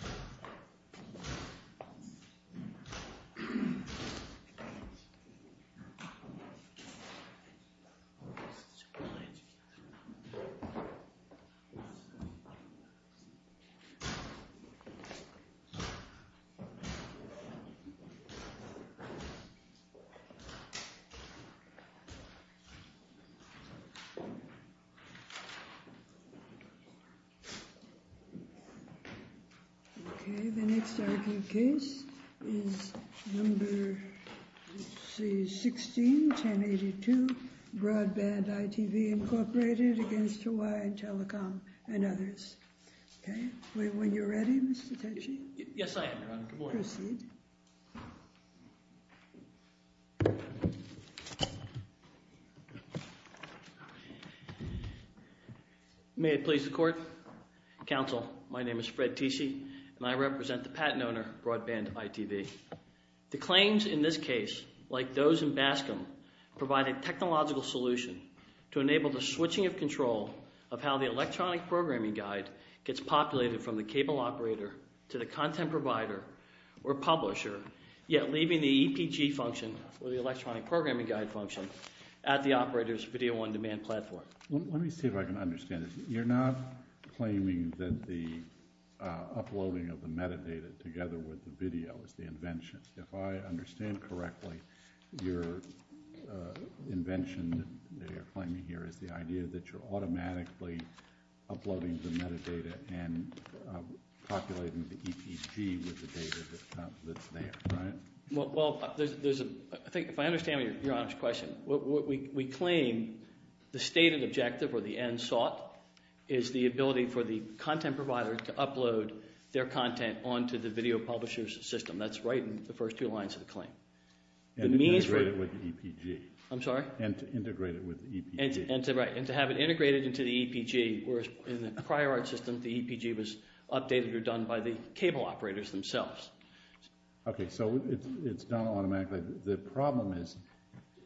The Hawaiian Telecom, Inc. v. Hawaiian Telecom, Inc. v. Hawaiian Telecom, Inc. Okay, the next argued case is number, let's see, 16-1082. Broadband iTV, Inc. v. Hawaiian Telecom, Inc. Okay, when you're ready, Mr. Tetchy. Yes, I am, Your Honor. Good morning. Proceed. May I please the court? Counsel, my name is Fred Tetchy, and I represent the patent owner, Broadband iTV. The claims in this case, like those in Bascom, provide a technological solution to enable the switching of control of how the electronic programming guide gets populated from the cable operator to the content provider or publisher, yet leaving the EPG function, or the electronic programming guide function, at the operator's video-on-demand platform. Let me see if I can understand this. You're not claiming that the uploading of the metadata together with the video is the invention. If I understand correctly, your invention that you're claiming here is the idea that you're automatically uploading the metadata and populating the EPG with the data that's there, right? Well, I think if I understand Your Honor's question, we claim the stated objective, or the end sought, is the ability for the content provider to upload their content onto the video publisher's system. That's right in the first two lines of the claim. And to integrate it with the EPG. I'm sorry? And to integrate it with the EPG. And to have it integrated into the EPG, whereas in the prior art system, the EPG was updated or done by the cable operators themselves. Okay, so it's done automatically. The problem is,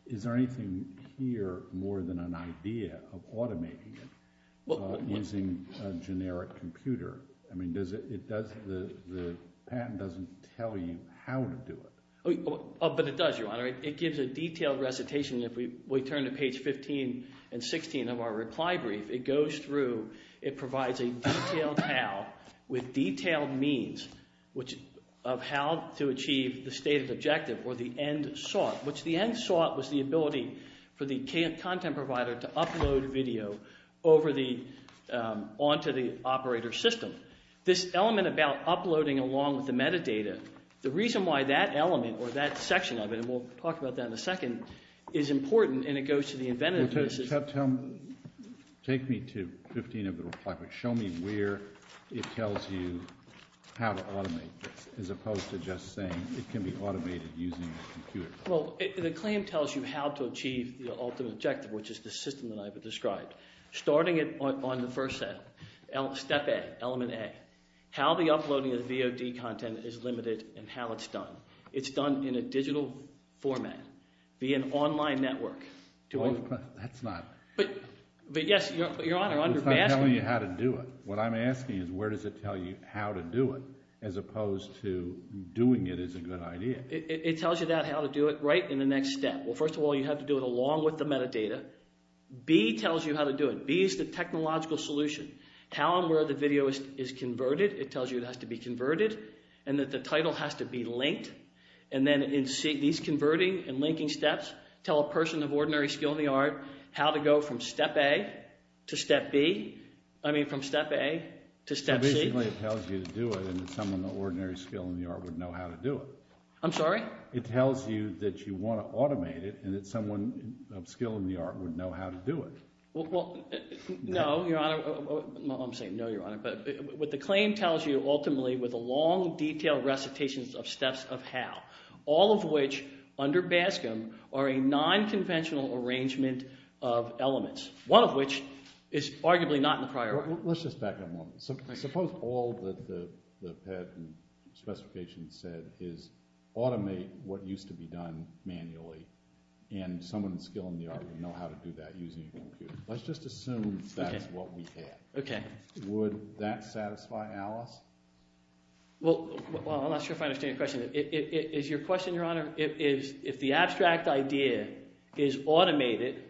is there anything here more than an idea of automating it using a generic computer? I mean, the patent doesn't tell you how to do it. But it does, Your Honor. It gives a detailed recitation. If we turn to page 15 and 16 of our reply brief, it goes through. It provides a detailed how, with detailed means, of how to achieve the stated objective, or the end sought. Which the end sought was the ability for the content provider to upload video onto the operator's system. This element about uploading along with the metadata, the reason why that element, or that section of it, and we'll talk about that in a second, is important, and it goes to the inventive pieces. Take me to 15 of the reply brief. Show me where it tells you how to automate this, as opposed to just saying it can be automated using a computer. Well, the claim tells you how to achieve the ultimate objective, which is the system that I've described. Starting on the first step, step A, element A, how the uploading of VOD content is limited and how it's done. It's done in a digital format, via an online network. That's not... But, yes, Your Honor, I'm asking... It's not telling you how to do it. What I'm asking is where does it tell you how to do it, as opposed to doing it as a good idea. It tells you that, how to do it, right in the next step. Well, first of all, you have to do it along with the metadata. B tells you how to do it. B is the technological solution. How and where the video is converted, it tells you it has to be converted, and that the title has to be linked. And then these converting and linking steps tell a person of ordinary skill in the art how to go from step A to step B. I mean, from step A to step C. So basically it tells you to do it, and someone of ordinary skill in the art would know how to do it. I'm sorry? It tells you that you want to automate it, and that someone of skill in the art would know how to do it. Well, no, Your Honor. I'm saying no, Your Honor. What the claim tells you ultimately were the long, detailed recitations of steps of how, all of which, under BASCM, are a nonconventional arrangement of elements, one of which is arguably not in the priority. Let's just back up a moment. Suppose all that the PET specification said is automate what used to be done manually, and someone with skill in the art would know how to do that using a computer. Let's just assume that's what we had. Would that satisfy Alice? Well, I'm not sure if I understand your question. Is your question, Your Honor, is if the abstract idea is automated,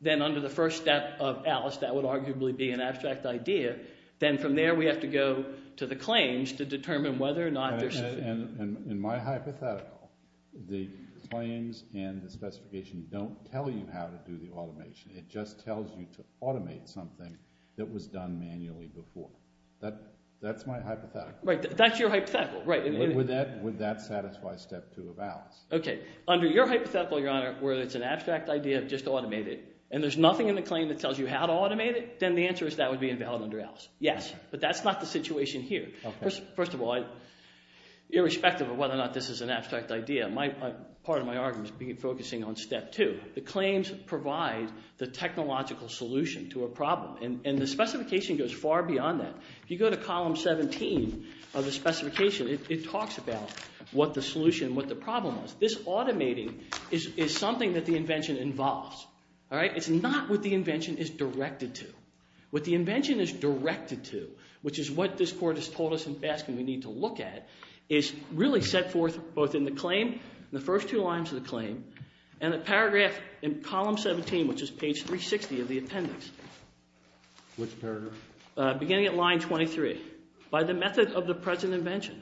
then under the first step of Alice that would arguably be an abstract idea. Then from there we have to go to the claims to determine whether or not they're sufficient. In my hypothetical, the claims and the specification don't tell you how to do the automation. It just tells you to automate something that was done manually before. That's my hypothetical. Right. That's your hypothetical. Would that satisfy step two of Alice? Okay. Under your hypothetical, Your Honor, where it's an abstract idea of just automate it, and there's nothing in the claim that tells you how to automate it, then the answer is that would be invalid under Alice. Yes, but that's not the situation here. First of all, irrespective of whether or not this is an abstract idea, part of my argument is focusing on step two. The claims provide the technological solution to a problem, and the specification goes far beyond that. If you go to column 17 of the specification, it talks about what the solution, what the problem is. This automating is something that the invention involves. It's not what the invention is directed to. What the invention is directed to, which is what this court has told us in Baskin we need to look at, is really set forth both in the claim, the first two lines of the claim, and the paragraph in column 17, which is page 360 of the appendix. Which paragraph? Beginning at line 23, by the method of the present invention,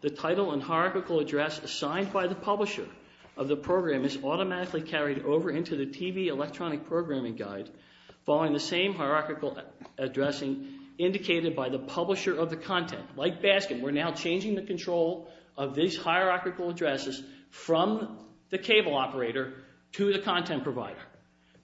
the title and hierarchical address assigned by the publisher of the program is automatically carried over into the TV electronic programming guide following the same hierarchical addressing indicated by the publisher of the content. Like Baskin, we're now changing the control of these hierarchical addresses from the cable operator to the content provider.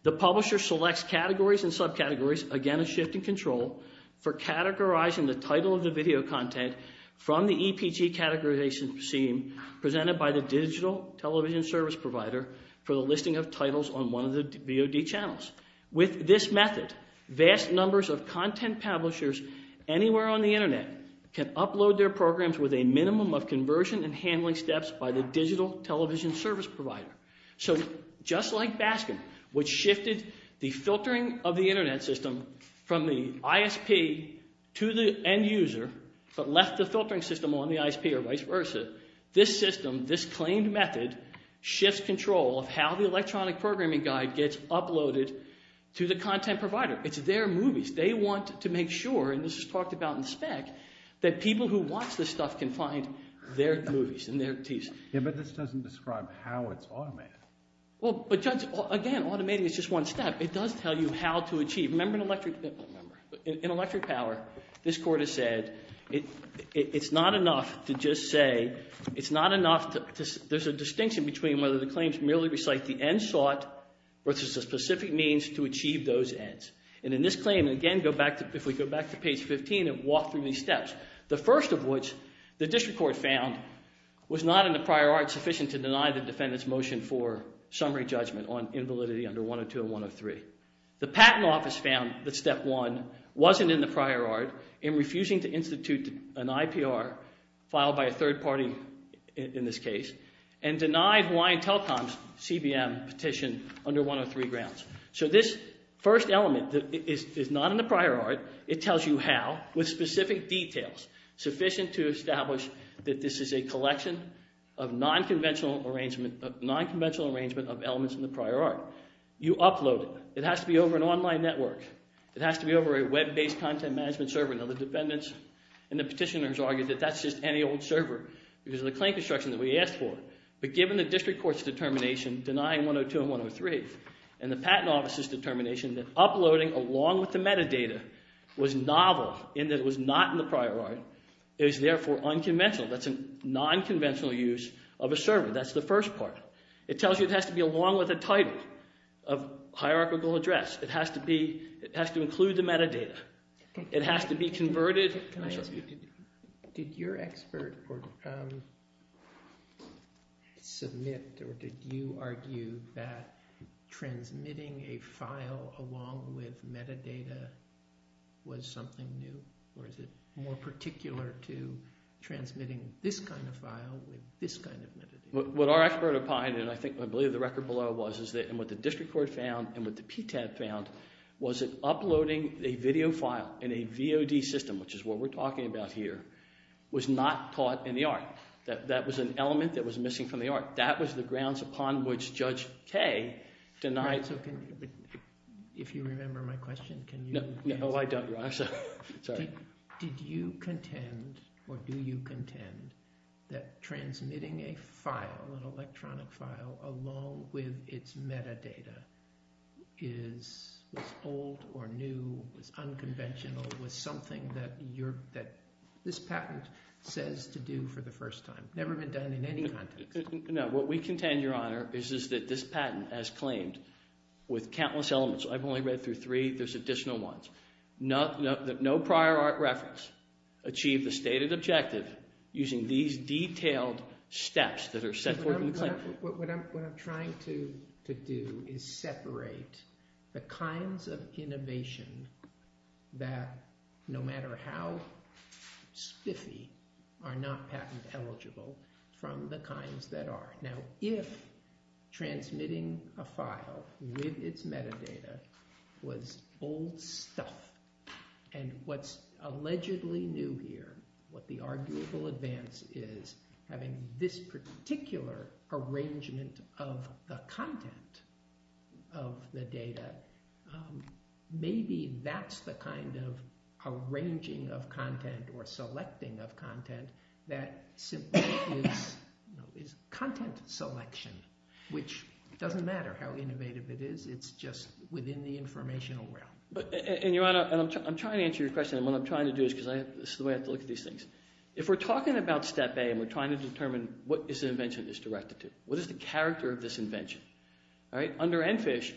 The publisher selects categories and subcategories, again a shift in control, for categorizing the title of the video content from the EPG categorization scene presented by the digital television service provider for the listing of titles on one of the VOD channels. With this method, vast numbers of content publishers anywhere on the internet can upload their programs with a minimum of conversion and handling steps by the digital television service provider. So just like Baskin, which shifted the filtering of the internet system from the ISP to the end user, but left the filtering system on the ISP or vice versa, this system, this claimed method, shifts control of how the electronic programming guide gets uploaded to the content provider. It's their movies. They want to make sure, and this is talked about in spec, that people who watch this stuff can find their movies and their tees. Yeah, but this doesn't describe how it's automated. Well, but judge, again, automating is just one step. It does tell you how to achieve. Remember in electric power, this court has said it's not enough to just say, it's not enough to, there's a distinction between whether the claims merely recite the end sought versus a specific means to achieve those ends. And in this claim, again, if we go back to page 15 and walk through these steps, the first of which the district court found was not in the prior art sufficient to deny the defendant's motion for summary judgment on invalidity under 102 and 103. The patent office found that step one wasn't in the prior art in refusing to institute an IPR filed by a third party, in this case, and denied Hawaiian Telecom's CBM petition under 103 grounds. So this first element is not in the prior art. It tells you how with specific details sufficient to establish that this is a collection of nonconventional arrangement, of nonconventional arrangement of elements in the prior art. You upload it. It has to be over an online network. It has to be over a web-based content management server. Now the defendants and the petitioners argue that that's just any old server because of the claim construction that we asked for. But given the district court's determination denying 102 and 103 and the patent office's determination that uploading along with the metadata was novel in that it was not in the prior art, it was therefore unconventional. That's a nonconventional use of a server. That's the first part. It tells you it has to be along with a title of hierarchical address. It has to include the metadata. It has to be converted. Can I ask you, did your expert submit or did you argue that transmitting a file along with metadata was something new or is it more particular to transmitting this kind of file with this kind of metadata? What our expert opined, and I believe the record below was, and what the district court found and what the PTAD found, was that uploading a video file in a VOD system, which is what we're talking about here, was not taught in the art. That was an element that was missing from the art. That was the grounds upon which Judge Kaye denied. If you remember my question, can you answer it? No, I don't, Your Honor. Did you contend or do you contend that transmitting a file, an electronic file, along with its metadata was old or new, was unconventional, was something that this patent says to do for the first time? Never been done in any context. No, what we contend, Your Honor, is that this patent has claimed with countless elements. I've only read through three. There's additional ones. No prior art reference achieved the stated objective using these detailed steps that are set forth in the claim. What I'm trying to do is separate the kinds of innovation that, no matter how spiffy, are not patent eligible from the kinds that are. Now if transmitting a file with its metadata was old stuff and what's allegedly new here, what the arguable advance is, having this particular arrangement of the content of the data, maybe that's the kind of arranging of content or selecting of content that simply is content selection, which doesn't matter how innovative it is. It's just within the informational realm. Your Honor, I'm trying to answer your question, and what I'm trying to do is because this is the way I have to look at these things. If we're talking about step A and we're trying to determine what this invention is directed to, what is the character of this invention? Under ENFISH,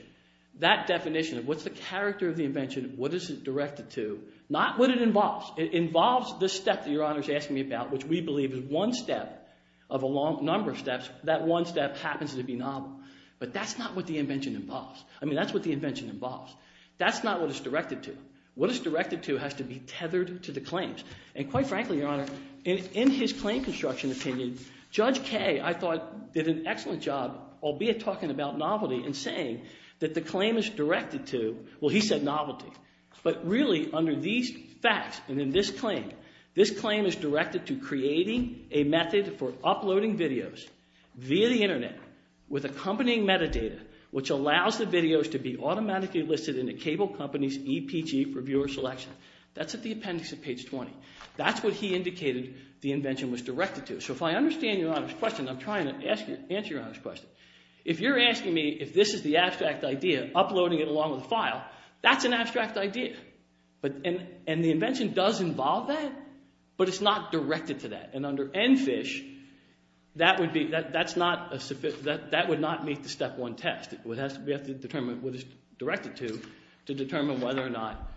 that definition of what's the character of the invention, what is it directed to, not what it involves. It involves this step that Your Honor is asking me about, which we believe is one step of a number of steps. That one step happens to be novel. But that's not what the invention involves. I mean that's what the invention involves. That's not what it's directed to. What it's directed to has to be tethered to the claims. And quite frankly, Your Honor, in his claim construction opinion, Judge Kaye, I thought, did an excellent job, albeit talking about novelty and saying that the claim is directed to, well, he said novelty. But really under these facts and in this claim, this claim is directed to creating a method for uploading videos via the internet with accompanying metadata which allows the videos to be automatically listed in a cable company's EPG for viewer selection. That's at the appendix at page 20. That's what he indicated the invention was directed to. So if I understand Your Honor's question, I'm trying to answer Your Honor's question. If you're asking me if this is the abstract idea, uploading it along with the file, that's an abstract idea. And the invention does involve that, but it's not directed to that. And under ENFISH, that would not meet the step one test. We have to determine what it's directed to to determine whether or not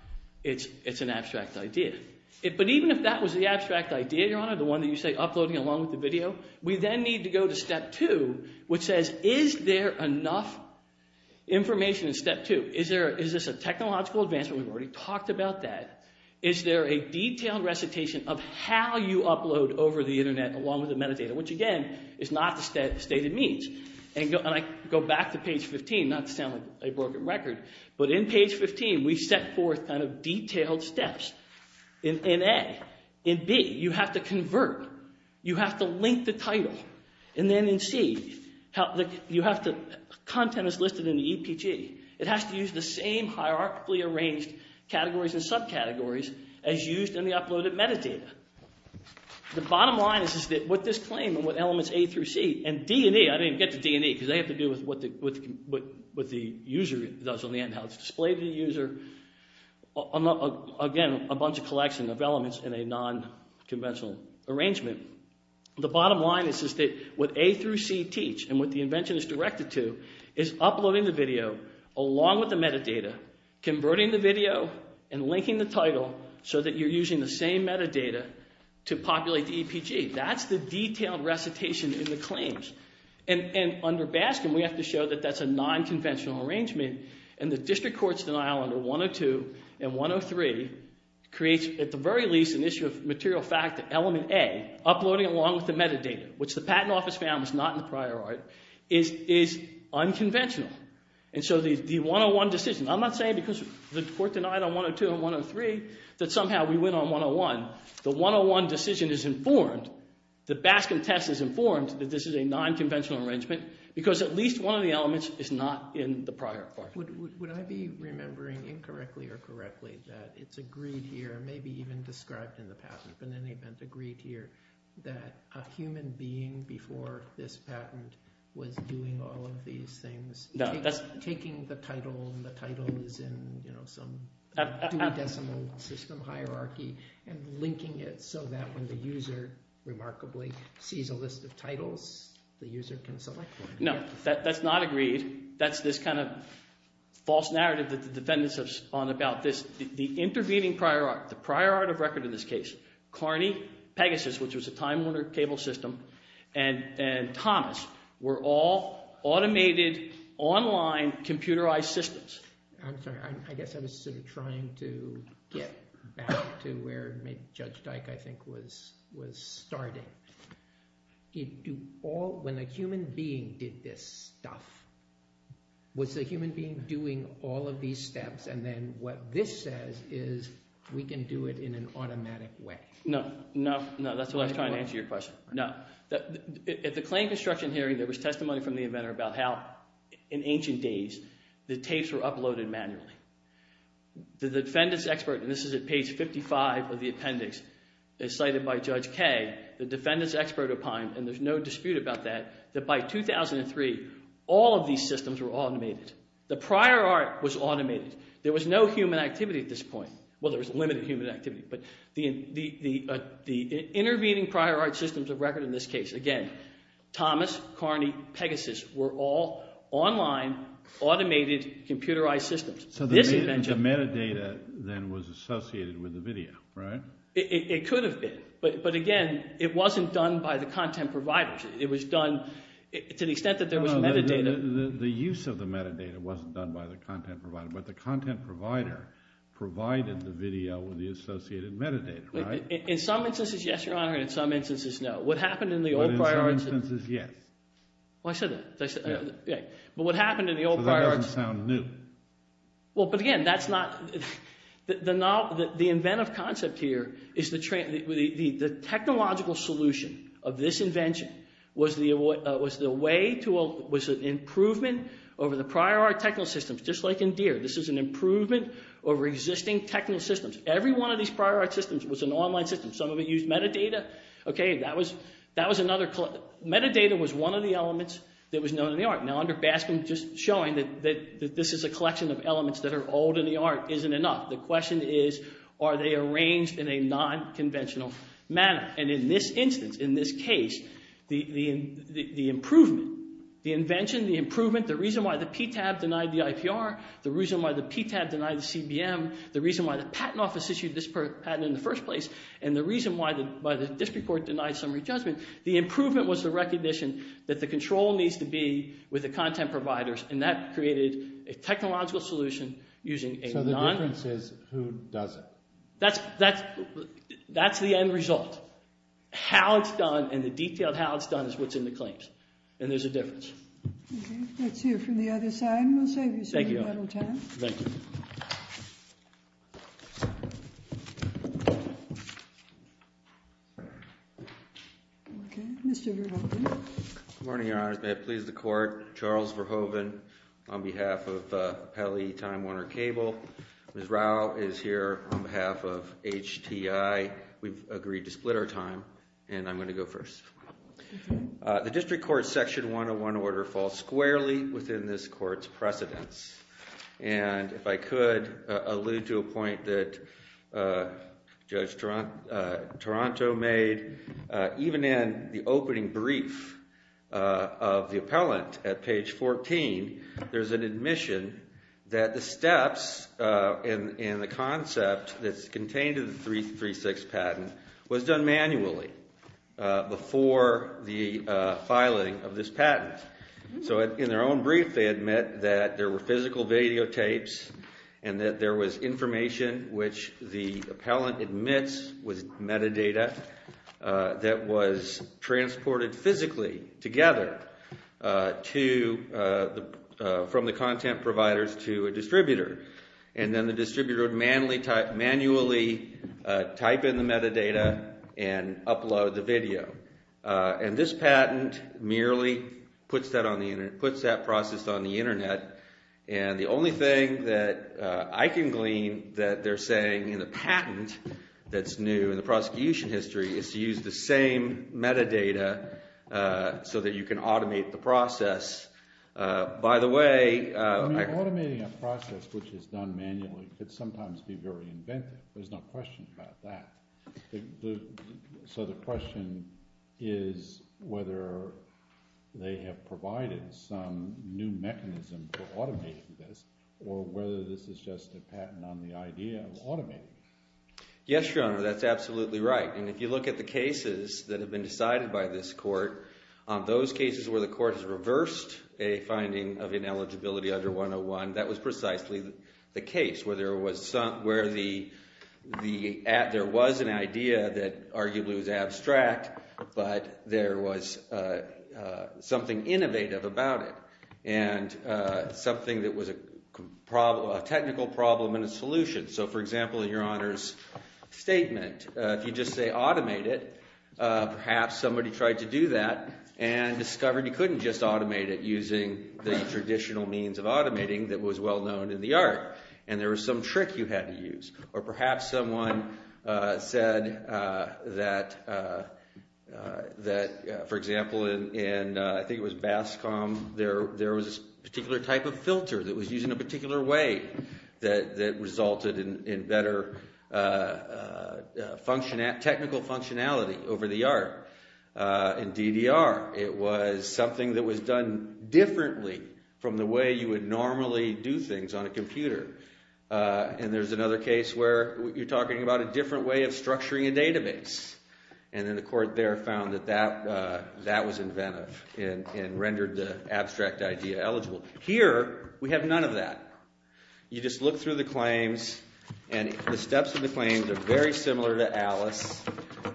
it's an abstract idea. But even if that was the abstract idea, Your Honor, the one that you say uploading along with the video, we then need to go to step two which says is there enough information in step two? Is this a technological advancement? We've already talked about that. Is there a detailed recitation of how you upload over the internet along with the metadata, which again is not the stated means? And I go back to page 15, not to sound like a broken record, but in page 15 we set forth kind of detailed steps in A. In B, you have to convert. You have to link the title. And then in C, content is listed in the EPG. It has to use the same hierarchically arranged categories and subcategories as used in the uploaded metadata. The bottom line is that what this claim and what elements A through C and D and E, I didn't get to D and E because they have to do with what the user does on the end, how it's displayed to the user. Again, a bunch of collection of elements in a nonconventional arrangement. The bottom line is that what A through C teach and what the invention is directed to is uploading the video along with the metadata, converting the video, and linking the title so that you're using the same metadata to populate the EPG. That's the detailed recitation in the claims. And under Baskin, we have to show that that's a nonconventional arrangement, and the district court's denial under 102 and 103 creates, at the very least, an issue of material fact that element A, uploading along with the metadata, which the patent office found was not in the prior art, is unconventional. And so the 101 decision, I'm not saying because the court denied on 102 and 103 that somehow we win on 101. The 101 decision is informed. The Baskin test is informed that this is a nonconventional arrangement because at least one of the elements is not in the prior part. Would I be remembering incorrectly or correctly that it's agreed here, maybe even described in the patent, but in any event agreed here, that a human being before this patent was doing all of these things, taking the title and the title is in some two-decimal system hierarchy and linking it so that when the user remarkably sees a list of titles, the user can select one? No, that's not agreed. That's this kind of false narrative that the defendants have spun about this. The intervening prior art, the prior art of record in this case, Kearney Pegasus, which was a Time Warner cable system, and Thomas were all automated online computerized systems. I'm sorry. I guess I was sort of trying to get back to where Judge Dyke, I think, was starting. When a human being did this stuff, was the human being doing all of these steps, and then what this says is we can do it in an automatic way? No, no, no. That's what I was trying to answer your question. No. At the claim construction hearing, there was testimony from the inventor about how in ancient days the tapes were uploaded manually. The defendants' expert, and this is at page 55 of the appendix, as cited by Judge Kaye, the defendants' expert opined, and there's no dispute about that, that by 2003 all of these systems were automated. The prior art was automated. There was no human activity at this point. Well, there was limited human activity, but the intervening prior art systems of record in this case, again, Thomas, Kearney, Pegasus were all online automated computerized systems. So the metadata then was associated with the video, right? It could have been, but again, it wasn't done by the content providers. It was done to the extent that there was metadata. The use of the metadata wasn't done by the content provider, but the content provider provided the video with the associated metadata, right? In some instances, yes, Your Honor, and in some instances, no. But in some instances, yes. Well, I said that. So that doesn't sound new. Well, but again, that's not... The inventive concept here is the technological solution of this invention was an improvement over the prior art technical systems. Just like in Deere, this is an improvement over existing technical systems. Every one of these prior art systems was an online system. Some of it used metadata. That was another... Metadata was one of the elements that was known in the art. Now, under Baskin, just showing that this is a collection of elements that are old in the art isn't enough. The question is, are they arranged in a nonconventional manner? And in this instance, in this case, the improvement, the invention, the improvement, the reason why the PTAB denied the IPR, the reason why the PTAB denied the CBM, the reason why the Patent Office issued this patent in the first place, and the reason why the district court denied summary judgment, the improvement was the recognition that the control needs to be with the content providers, and that created a technological solution using a non... So the difference is who does it? That's the end result. How it's done and the detail of how it's done is what's in the claims. And there's a difference. Let's hear from the other side, and we'll save you some little time. Thank you. Okay, Mr. Verhoeven. Good morning, Your Honors. May it please the Court, Charles Verhoeven on behalf of Pelley Time Warner Cable. Ms. Rao is here on behalf of HTI. We've agreed to split our time, and I'm going to go first. The district court's Section 101 order falls squarely within this court's precedence. And if I could allude to a point that Judge Toronto made, even in the opening brief of the appellant at page 14, there's an admission that the steps in the concept that's contained in the 336 patent was done manually before the filing of this patent. So in their own brief, they admit that there were physical videotapes and that there was information which the appellant admits was metadata that was transported physically together from the content providers to a distributor. And then the distributor would manually type in the metadata and upload the video. And this patent merely puts that process on the Internet. And the only thing that I can glean that they're saying in the patent that's new in the prosecution history is to use the same metadata so that you can automate the process. By the way, I- Automating a process which is done manually could sometimes be very inventive. There's no question about that. So the question is whether they have provided some new mechanism for automating this or whether this is just a patent on the idea of automating. Yes, Your Honor, that's absolutely right. And if you look at the cases that have been decided by this court, those cases where the court has reversed a finding of ineligibility under 101, that was precisely the case where there was an idea that arguably was abstract, but there was something innovative about it and something that was a technical problem and a solution. So, for example, in Your Honor's statement, if you just say automate it, perhaps somebody tried to do that and discovered you couldn't just automate it in a way that was well known in the art and there was some trick you had to use. Or perhaps someone said that, for example, in I think it was BASCOM, there was a particular type of filter that was used in a particular way that resulted in better technical functionality over the art. In DDR, it was something that was done differently from the way you would normally do things on a computer. And there's another case where you're talking about a different way of structuring a database. And then the court there found that that was inventive and rendered the abstract idea eligible. Here, we have none of that. You just look through the claims and the steps of the claims are very similar to Alice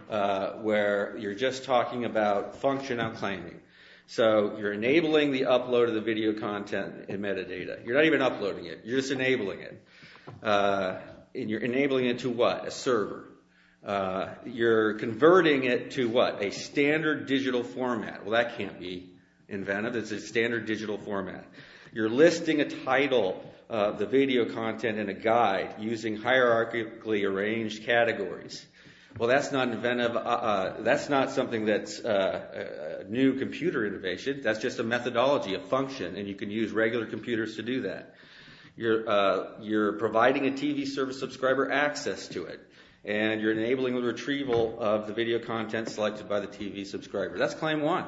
where you're just talking about functional claiming. So you're enabling the upload of the video content in metadata. You're not even uploading it. You're just enabling it. And you're enabling it to what? A server. You're converting it to what? A standard digital format. Well, that can't be inventive. It's a standard digital format. You're listing a title of the video content in a guide using hierarchically arranged categories. Well, that's not inventive. That's not something that's new computer innovation. That's just a methodology, a function, and you can use regular computers to do that. You're providing a TV service subscriber access to it, and you're enabling the retrieval of the video content selected by the TV subscriber. That's claim one.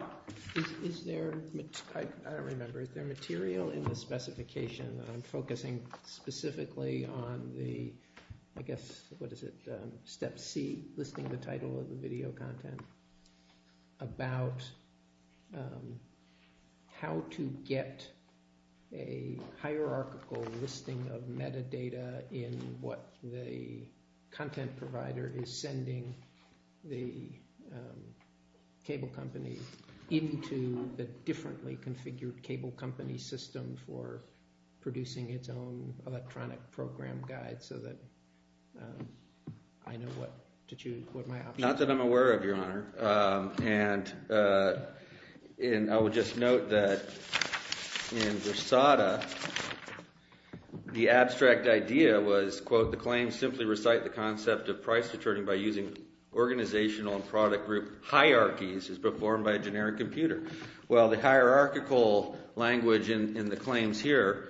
Is there – I don't remember. Is there material in the specification? I'm focusing specifically on the – I guess – what is it? Step C, listing the title of the video content, about how to get a hierarchical listing of metadata in what the content provider is sending the cable company into the differently configured cable company system for producing its own electronic program guide so that I know what to choose, what my options are. Not that I'm aware of, Your Honor. And I would just note that in Versada, the abstract idea was, quote, well, the hierarchical language in the claims here,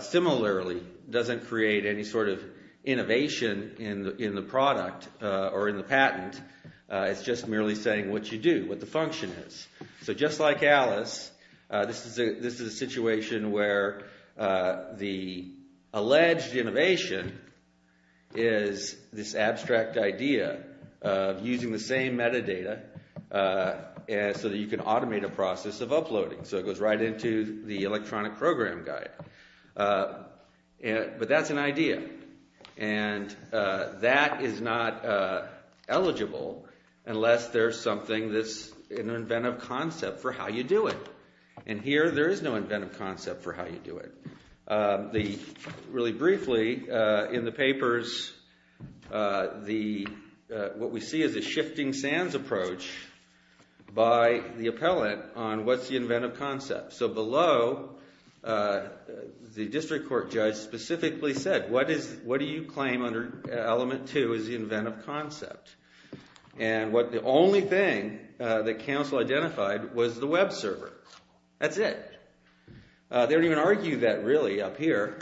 similarly, doesn't create any sort of innovation in the product or in the patent. It's just merely saying what you do, what the function is. So just like Alice, this is a situation where the alleged innovation is this abstract idea of using the same metadata so that you can automate a process of uploading. So it goes right into the electronic program guide. But that's an idea. And that is not eligible unless there's something that's an inventive concept for how you do it. And here, there is no inventive concept for how you do it. Really briefly, in the papers, what we see is a shifting sands approach by the appellant on what's the inventive concept. So below, the district court judge specifically said, what do you claim under element two as the inventive concept? And the only thing that counsel identified was the web server. That's it. They don't even argue that, really, up here.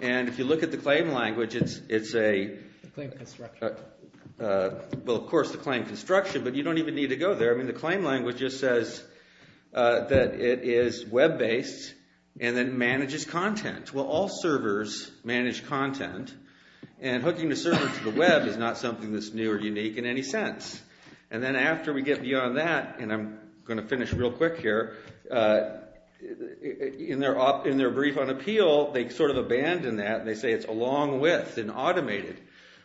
And if you look at the claim language, it's a— The claim construction. Well, of course, the claim construction. But you don't even need to go there. I mean, the claim language just says that it is web-based and then manages content. Well, all servers manage content. And hooking the server to the web is not something that's new or unique in any sense. And then after we get beyond that, and I'm going to finish real quick here, in their brief on appeal, they sort of abandon that. And they say it's along with and automated.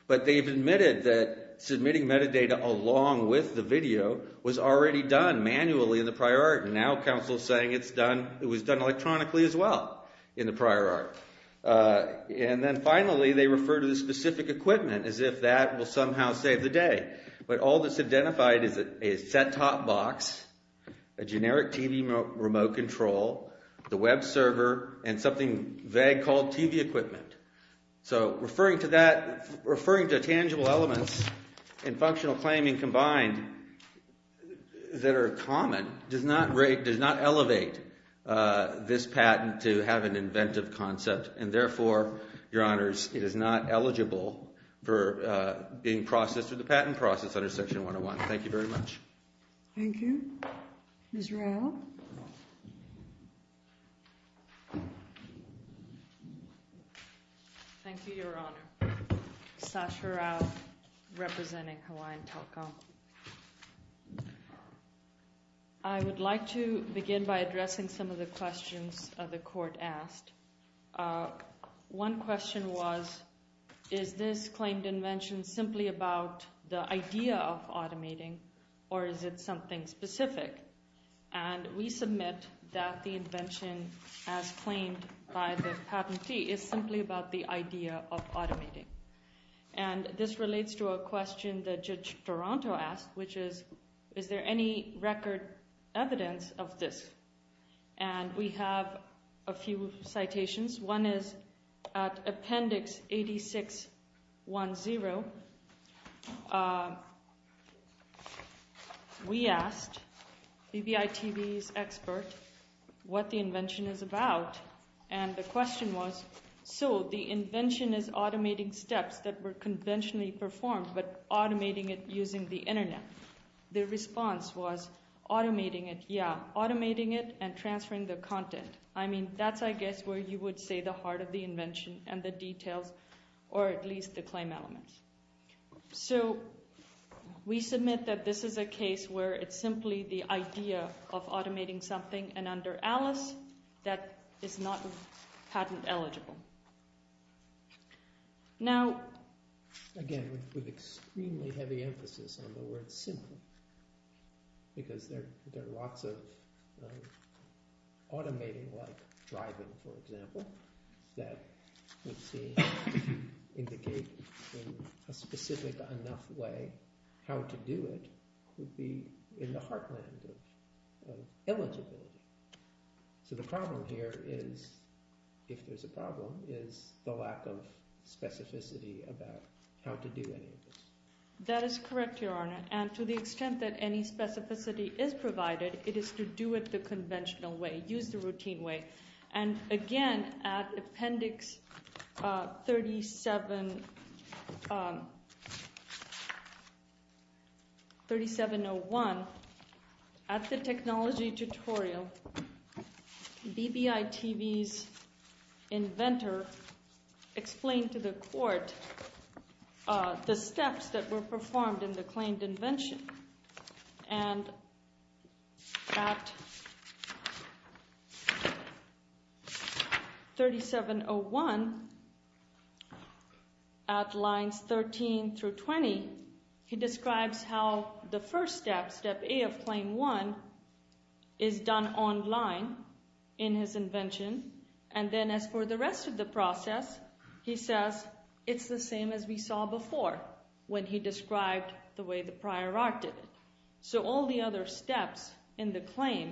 But they've admitted that submitting metadata along with the video was already done manually in the prior art. And now counsel is saying it was done electronically as well in the prior art. And then finally, they refer to the specific equipment as if that will somehow save the day. But all that's identified is a set-top box, a generic TV remote control, the web server, and something vague called TV equipment. So referring to that—referring to tangible elements and functional claiming combined that are common does not elevate this patent to have an inventive concept. And therefore, Your Honors, it is not eligible for being processed through the patent process under Section 101. Thank you very much. Thank you. Ms. Rao? Thank you, Your Honor. Sasha Rao, representing Hawaiian Telco. I would like to begin by addressing some of the questions the court asked. One question was, is this claimed invention simply about the idea of automating, or is it something specific? And we submit that the invention, as claimed by the patentee, is simply about the idea of automating. And this relates to a question that Judge Toronto asked, which is, is there any record evidence of this? And we have a few citations. One is at Appendix 8610, we asked BBI TV's expert what the invention is about. And the question was, so the invention is automating steps that were conventionally performed, but automating it using the Internet. Their response was, automating it, yeah, automating it and transferring the content. I mean, that's, I guess, where you would say the heart of the invention and the details, or at least the claim elements. So we submit that this is a case where it's simply the idea of automating something, and under Alice, that is not patent eligible. Now – Again, with extremely heavy emphasis on the word simply, because there are lots of automating like driving, for example, that we've seen indicate in a specific enough way how to do it would be in the heartland of eligibility. So the problem here is, if there's a problem, is the lack of specificity about how to do any of this. That is correct, Your Honor, and to the extent that any specificity is provided, it is to do it the conventional way, use the routine way. And again, at Appendix 3701, at the technology tutorial, BBI TV's inventor explained to the court the steps that were performed in the claimed invention. And at 3701, at lines 13 through 20, he describes how the first step, Step A of Claim 1, is done online in his invention. And then as for the rest of the process, he says it's the same as we saw before when he described the way the prior art did it. So all the other steps in the claim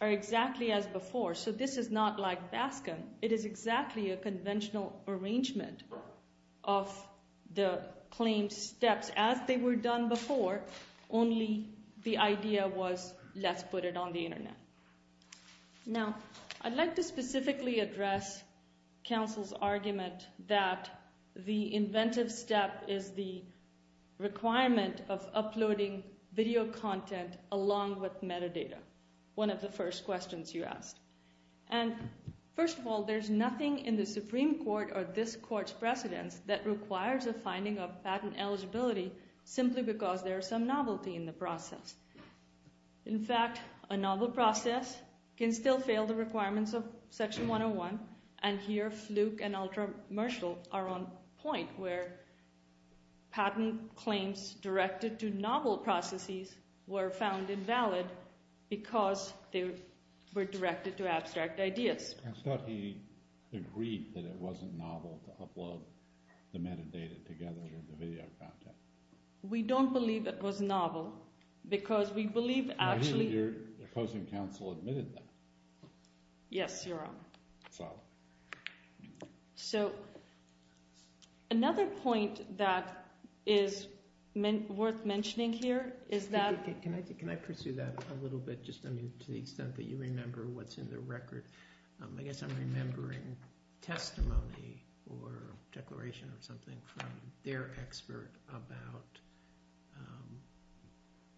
are exactly as before. So this is not like Baskin. It is exactly a conventional arrangement of the claimed steps as they were done before, only the idea was, let's put it on the internet. Now, I'd like to specifically address counsel's argument that the inventive step is the requirement of uploading video content along with metadata, one of the first questions you asked. And first of all, there's nothing in the Supreme Court or this court's precedence that requires a finding of patent eligibility simply because there's some novelty in the process. In fact, a novel process can still fail the requirements of Section 101, and here Fluke and Ultra-Marshall are on point where patent claims directed to novel processes were found invalid because they were directed to abstract ideas. I thought he agreed that it wasn't novel to upload the metadata together with the video content. We don't believe it was novel because we believe actually – I hear your opposing counsel admitted that. Yes, Your Honor. So? So another point that is worth mentioning here is that –– about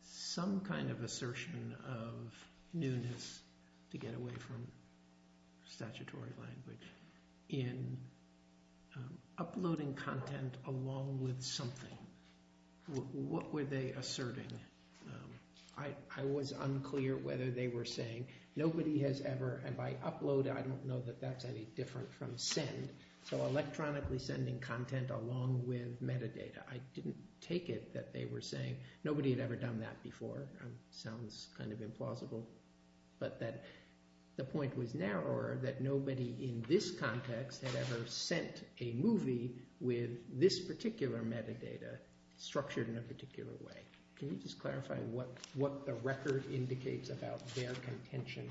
some kind of assertion of newness, to get away from statutory language, in uploading content along with something. What were they asserting? I was unclear whether they were saying nobody has ever – and by upload, I don't know that that's any different from send. So electronically sending content along with metadata. I didn't take it that they were saying nobody had ever done that before. It sounds kind of implausible, but that the point was narrower that nobody in this context had ever sent a movie with this particular metadata structured in a particular way. Can you just clarify what the record indicates about their contention?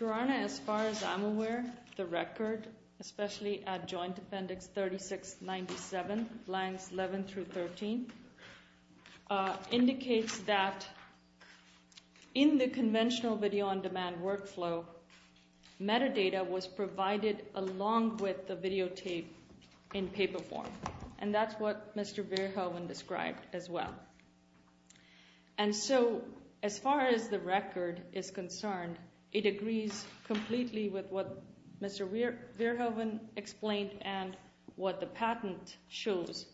Your Honor, as far as I'm aware, the record, especially at Joint Appendix 3697, lines 11 through 13, indicates that in the conventional video-on-demand workflow, metadata was provided along with the videotape in paper form. And that's what Mr. Verhoeven described as well. And so, as far as the record is concerned, it agrees completely with what Mr. Verhoeven explained and what the patent shows,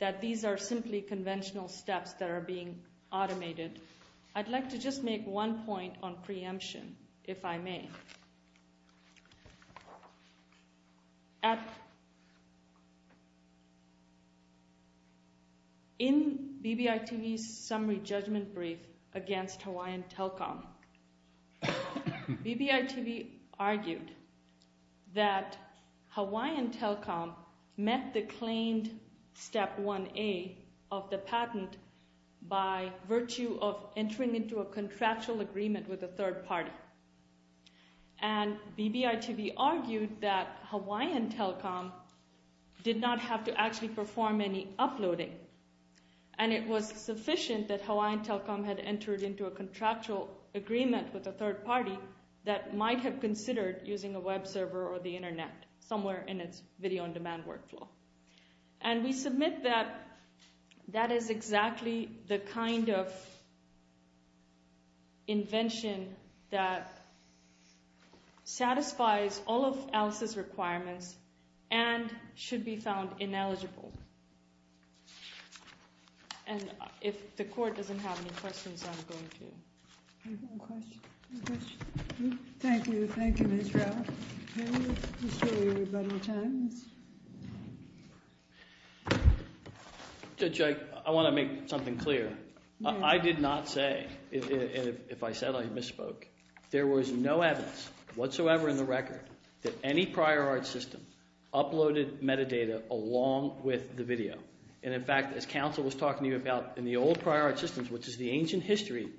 that these are simply conventional steps that are being automated. I'd like to just make one point on preemption, if I may. In BBRTV's summary judgment brief against Hawaiian Telecom, BBRTV argued that Hawaiian Telecom met the claimed Step 1A of the patent by virtue of entering into a contractual agreement with a third party. And BBRTV argued that Hawaiian Telecom did not have to actually perform any uploading. And it was sufficient that Hawaiian Telecom had entered into a contractual agreement with a third party that might have considered using a web server or the internet somewhere in its video-on-demand workflow. And we submit that that is exactly the kind of invention that satisfies all of ALICE's requirements and should be found ineligible. And if the court doesn't have any questions, I'm going to... Thank you. Thank you, Ms. Ralph. Can we just show everybody the time? Judge, I want to make something clear. I did not say, and if I said I misspoke, there was no evidence whatsoever in the record that any prior art system uploaded metadata along with the video. And in fact, as counsel was talking to you about, in the old prior art systems, which is the ancient history,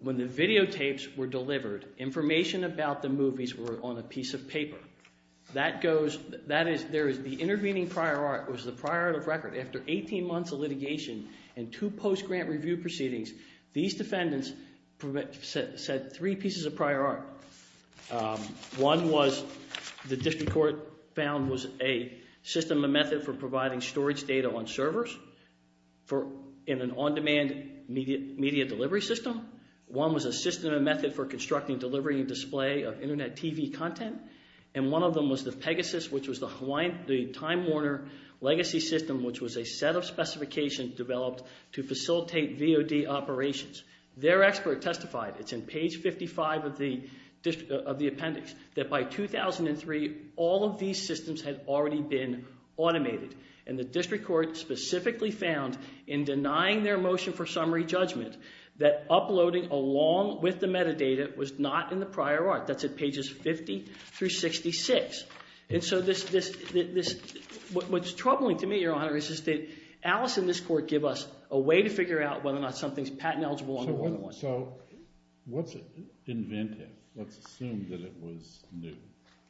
when the videotapes were delivered, information about the movies were on a piece of paper. That goes, that is, the intervening prior art was the prior art of record. After 18 months of litigation and two post-grant review proceedings, these defendants said three pieces of prior art. One was, the district court found, was a system, a method for providing storage data on servers in an on-demand media delivery system. One was a system and method for constructing, delivering, and display of Internet TV content. And one of them was the Pegasus, which was the Time Warner legacy system, which was a set of specifications developed to facilitate VOD operations. Their expert testified, it's in page 55 of the appendix, that by 2003, all of these systems had already been automated. And the district court specifically found, in denying their motion for summary judgment, that uploading along with the metadata was not in the prior art. That's at pages 50 through 66. And so this, this, this, what's troubling to me, Your Honor, is that Alice and this court give us a way to figure out whether or not something's patent eligible on the one. So what's inventive? Let's assume that it was new.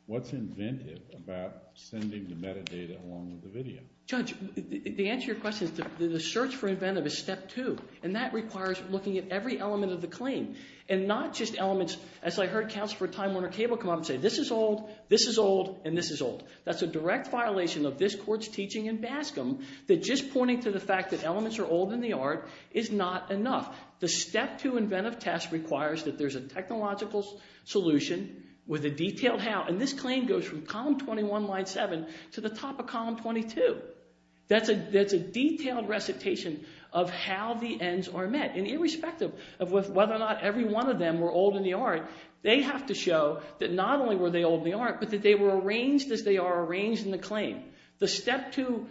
What's inventive about sending the metadata along with the video? Judge, the answer to your question is that the search for inventive is step two. And that requires looking at every element of the claim, and not just elements. As I heard Counselor Time Warner-Cable come up and say, this is old, this is old, and this is old. That's a direct violation of this court's teaching in Bascom that just pointing to the fact that elements are old in the art is not enough. The step two inventive test requires that there's a technological solution with a detailed how. And this claim goes from column 21, line 7 to the top of column 22. That's a, that's a detailed recitation of how the ends are met. And irrespective of whether or not every one of them were old in the art, they have to show that not only were they old in the art, but that they were arranged as they are arranged in the claim. The step two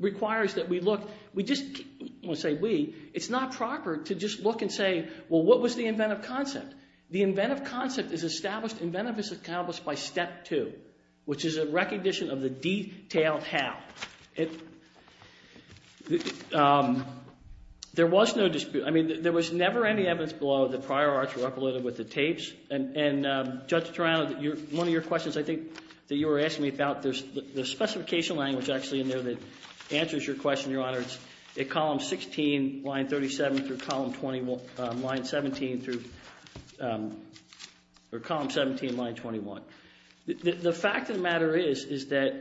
requires that we look, we just, I don't want to say we, it's not proper to just look and say, well, what was the inventive concept? The inventive concept is established, inventive is accomplished by step two, which is a recognition of the detailed how. There was no dispute, I mean, there was never any evidence below that prior arts were uploaded with the tapes. And Judge Toronto, one of your questions I think that you were asking me about, there's specification language actually in there that answers your question, Your Honor. It's at column 16, line 37 through column 21, line 17 through, or column 17, line 21. The fact of the matter is, is that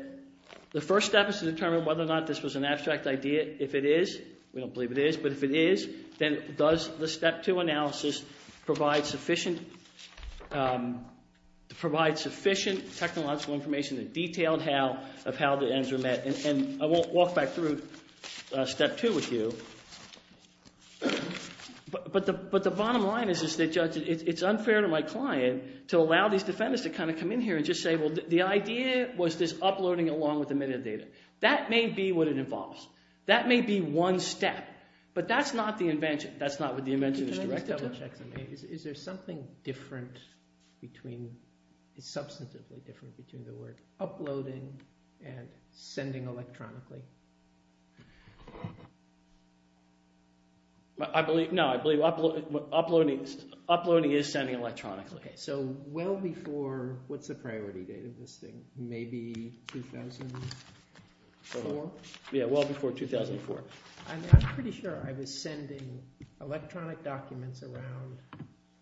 the first step is to determine whether or not this was an abstract idea. If it is, we don't believe it is, but if it is, then does the step two analysis provide sufficient technological information that detailed how, of how the ends are met? And I won't walk back through step two with you, but the bottom line is that, Judge, it's unfair to my client to allow these defendants to kind of come in here and just say, well, the idea was this uploading along with the metadata. That may be what it involves. That may be one step, but that's not the invention. That's not what the invention is directed to. Is there something different between, substantively different between the word uploading and sending electronically? I believe, no, I believe uploading is sending electronically. Okay, so well before, what's the priority date of this thing? Maybe 2004? Yeah, well before 2004. I'm pretty sure I was sending electronic documents around,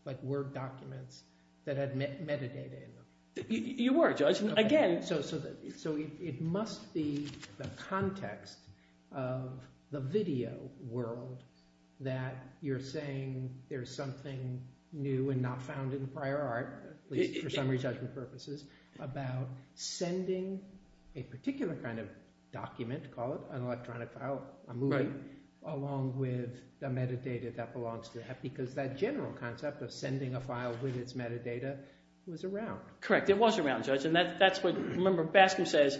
like Word documents, that had metadata in them. You were, Judge. So it must be the context of the video world that you're saying there's something new and not found in the prior art, at least for summary judgment purposes, about sending a particular kind of document, call it an electronic file, a movie, along with the metadata that belongs to it. Because that general concept of sending a file with its metadata was around. Correct, it was around, Judge, and that's what, remember, Baskin says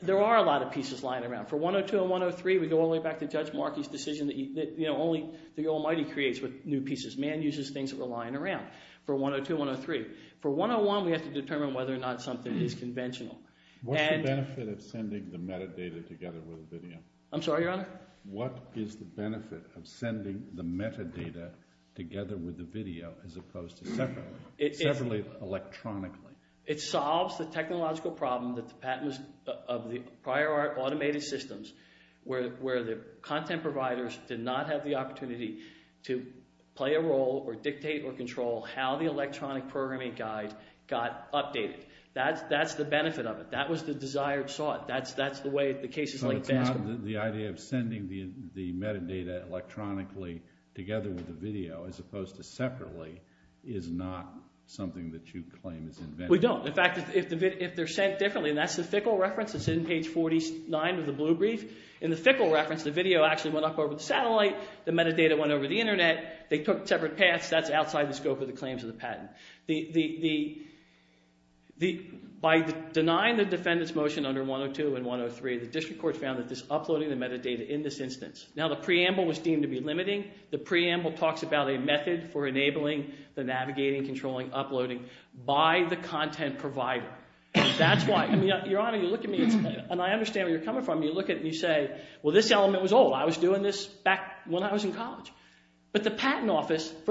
there are a lot of pieces lying around. For 102 and 103, we go all the way back to Judge Markey's decision that only the Almighty creates with new pieces. Man uses things that were lying around for 102 and 103. For 101, we have to determine whether or not something is conventional. What's the benefit of sending the metadata together with the video? I'm sorry, Your Honor? What is the benefit of sending the metadata together with the video as opposed to separately, electronically? It solves the technological problem of the prior art automated systems where the content providers did not have the opportunity to play a role or dictate or control how the electronic programming guide got updated. That's the benefit of it. That was the desired sort. So it's not the idea of sending the metadata electronically together with the video as opposed to separately is not something that you claim is inventive? We don't. In fact, if they're sent differently, and that's the Fickle reference that's in page 49 of the blue brief. In the Fickle reference, the video actually went up over the satellite. The metadata went over the internet. They took separate paths. That's outside the scope of the claims of the patent. By denying the defendant's motion under 102 and 103, the district court found that this uploading the metadata in this instance. Now, the preamble was deemed to be limiting. The preamble talks about a method for enabling the navigating, controlling, uploading by the content provider. That's why – I mean, Your Honor, you look at me, and I understand where you're coming from. You look at me and you say, well, this element was old. I was doing this back when I was in college. But the patent office –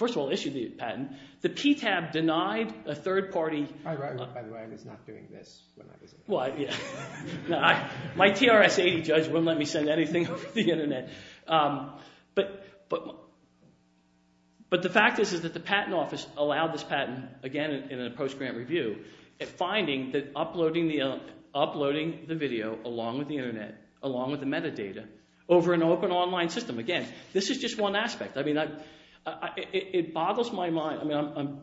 first of all, issued the patent. The PTAB denied a third-party – I wrote one, by the way. I was not doing this when I was in college. Well, yeah. My TRS-80 judge wouldn't let me send anything over the internet. But the fact is that the patent office allowed this patent, again, in a post-grant review, finding that uploading the video along with the internet, along with the metadata, over an open online system. Again, this is just one aspect. I mean it boggles my mind. I mean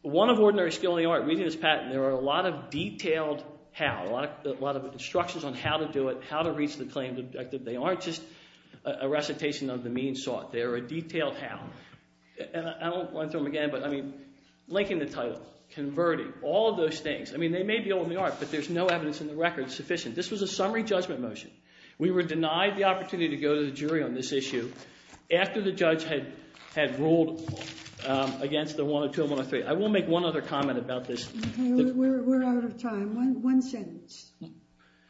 one of ordinary skill in the art, reading this patent, there are a lot of detailed how, a lot of instructions on how to do it, how to reach the claim. They aren't just a recitation of the means sought. They are a detailed how. And I don't want to throw them again, but I mean linking the title, converting, all of those things. I mean they may be old in the art, but there's no evidence in the record sufficient. This was a summary judgment motion. We were denied the opportunity to go to the jury on this issue after the judge had ruled against the 102 and 103. I will make one other comment about this. Okay. We're out of time. One sentence.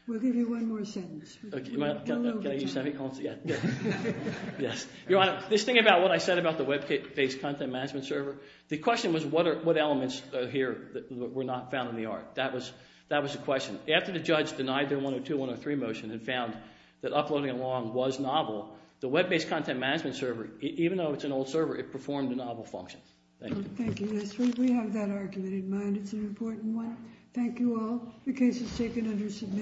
We'll give you one more sentence. Can I use semicolon? Yes. Your Honor, this thing about what I said about the web-based content management server, the question was what elements here were not found in the art. That was the question. After the judge denied their 102-103 motion and found that uploading along was novel, the web-based content management server, even though it's an old server, it performed a novel function. Thank you. Thank you. We have that argument in mind. It's an important one. Thank you all. The case is taken under submission.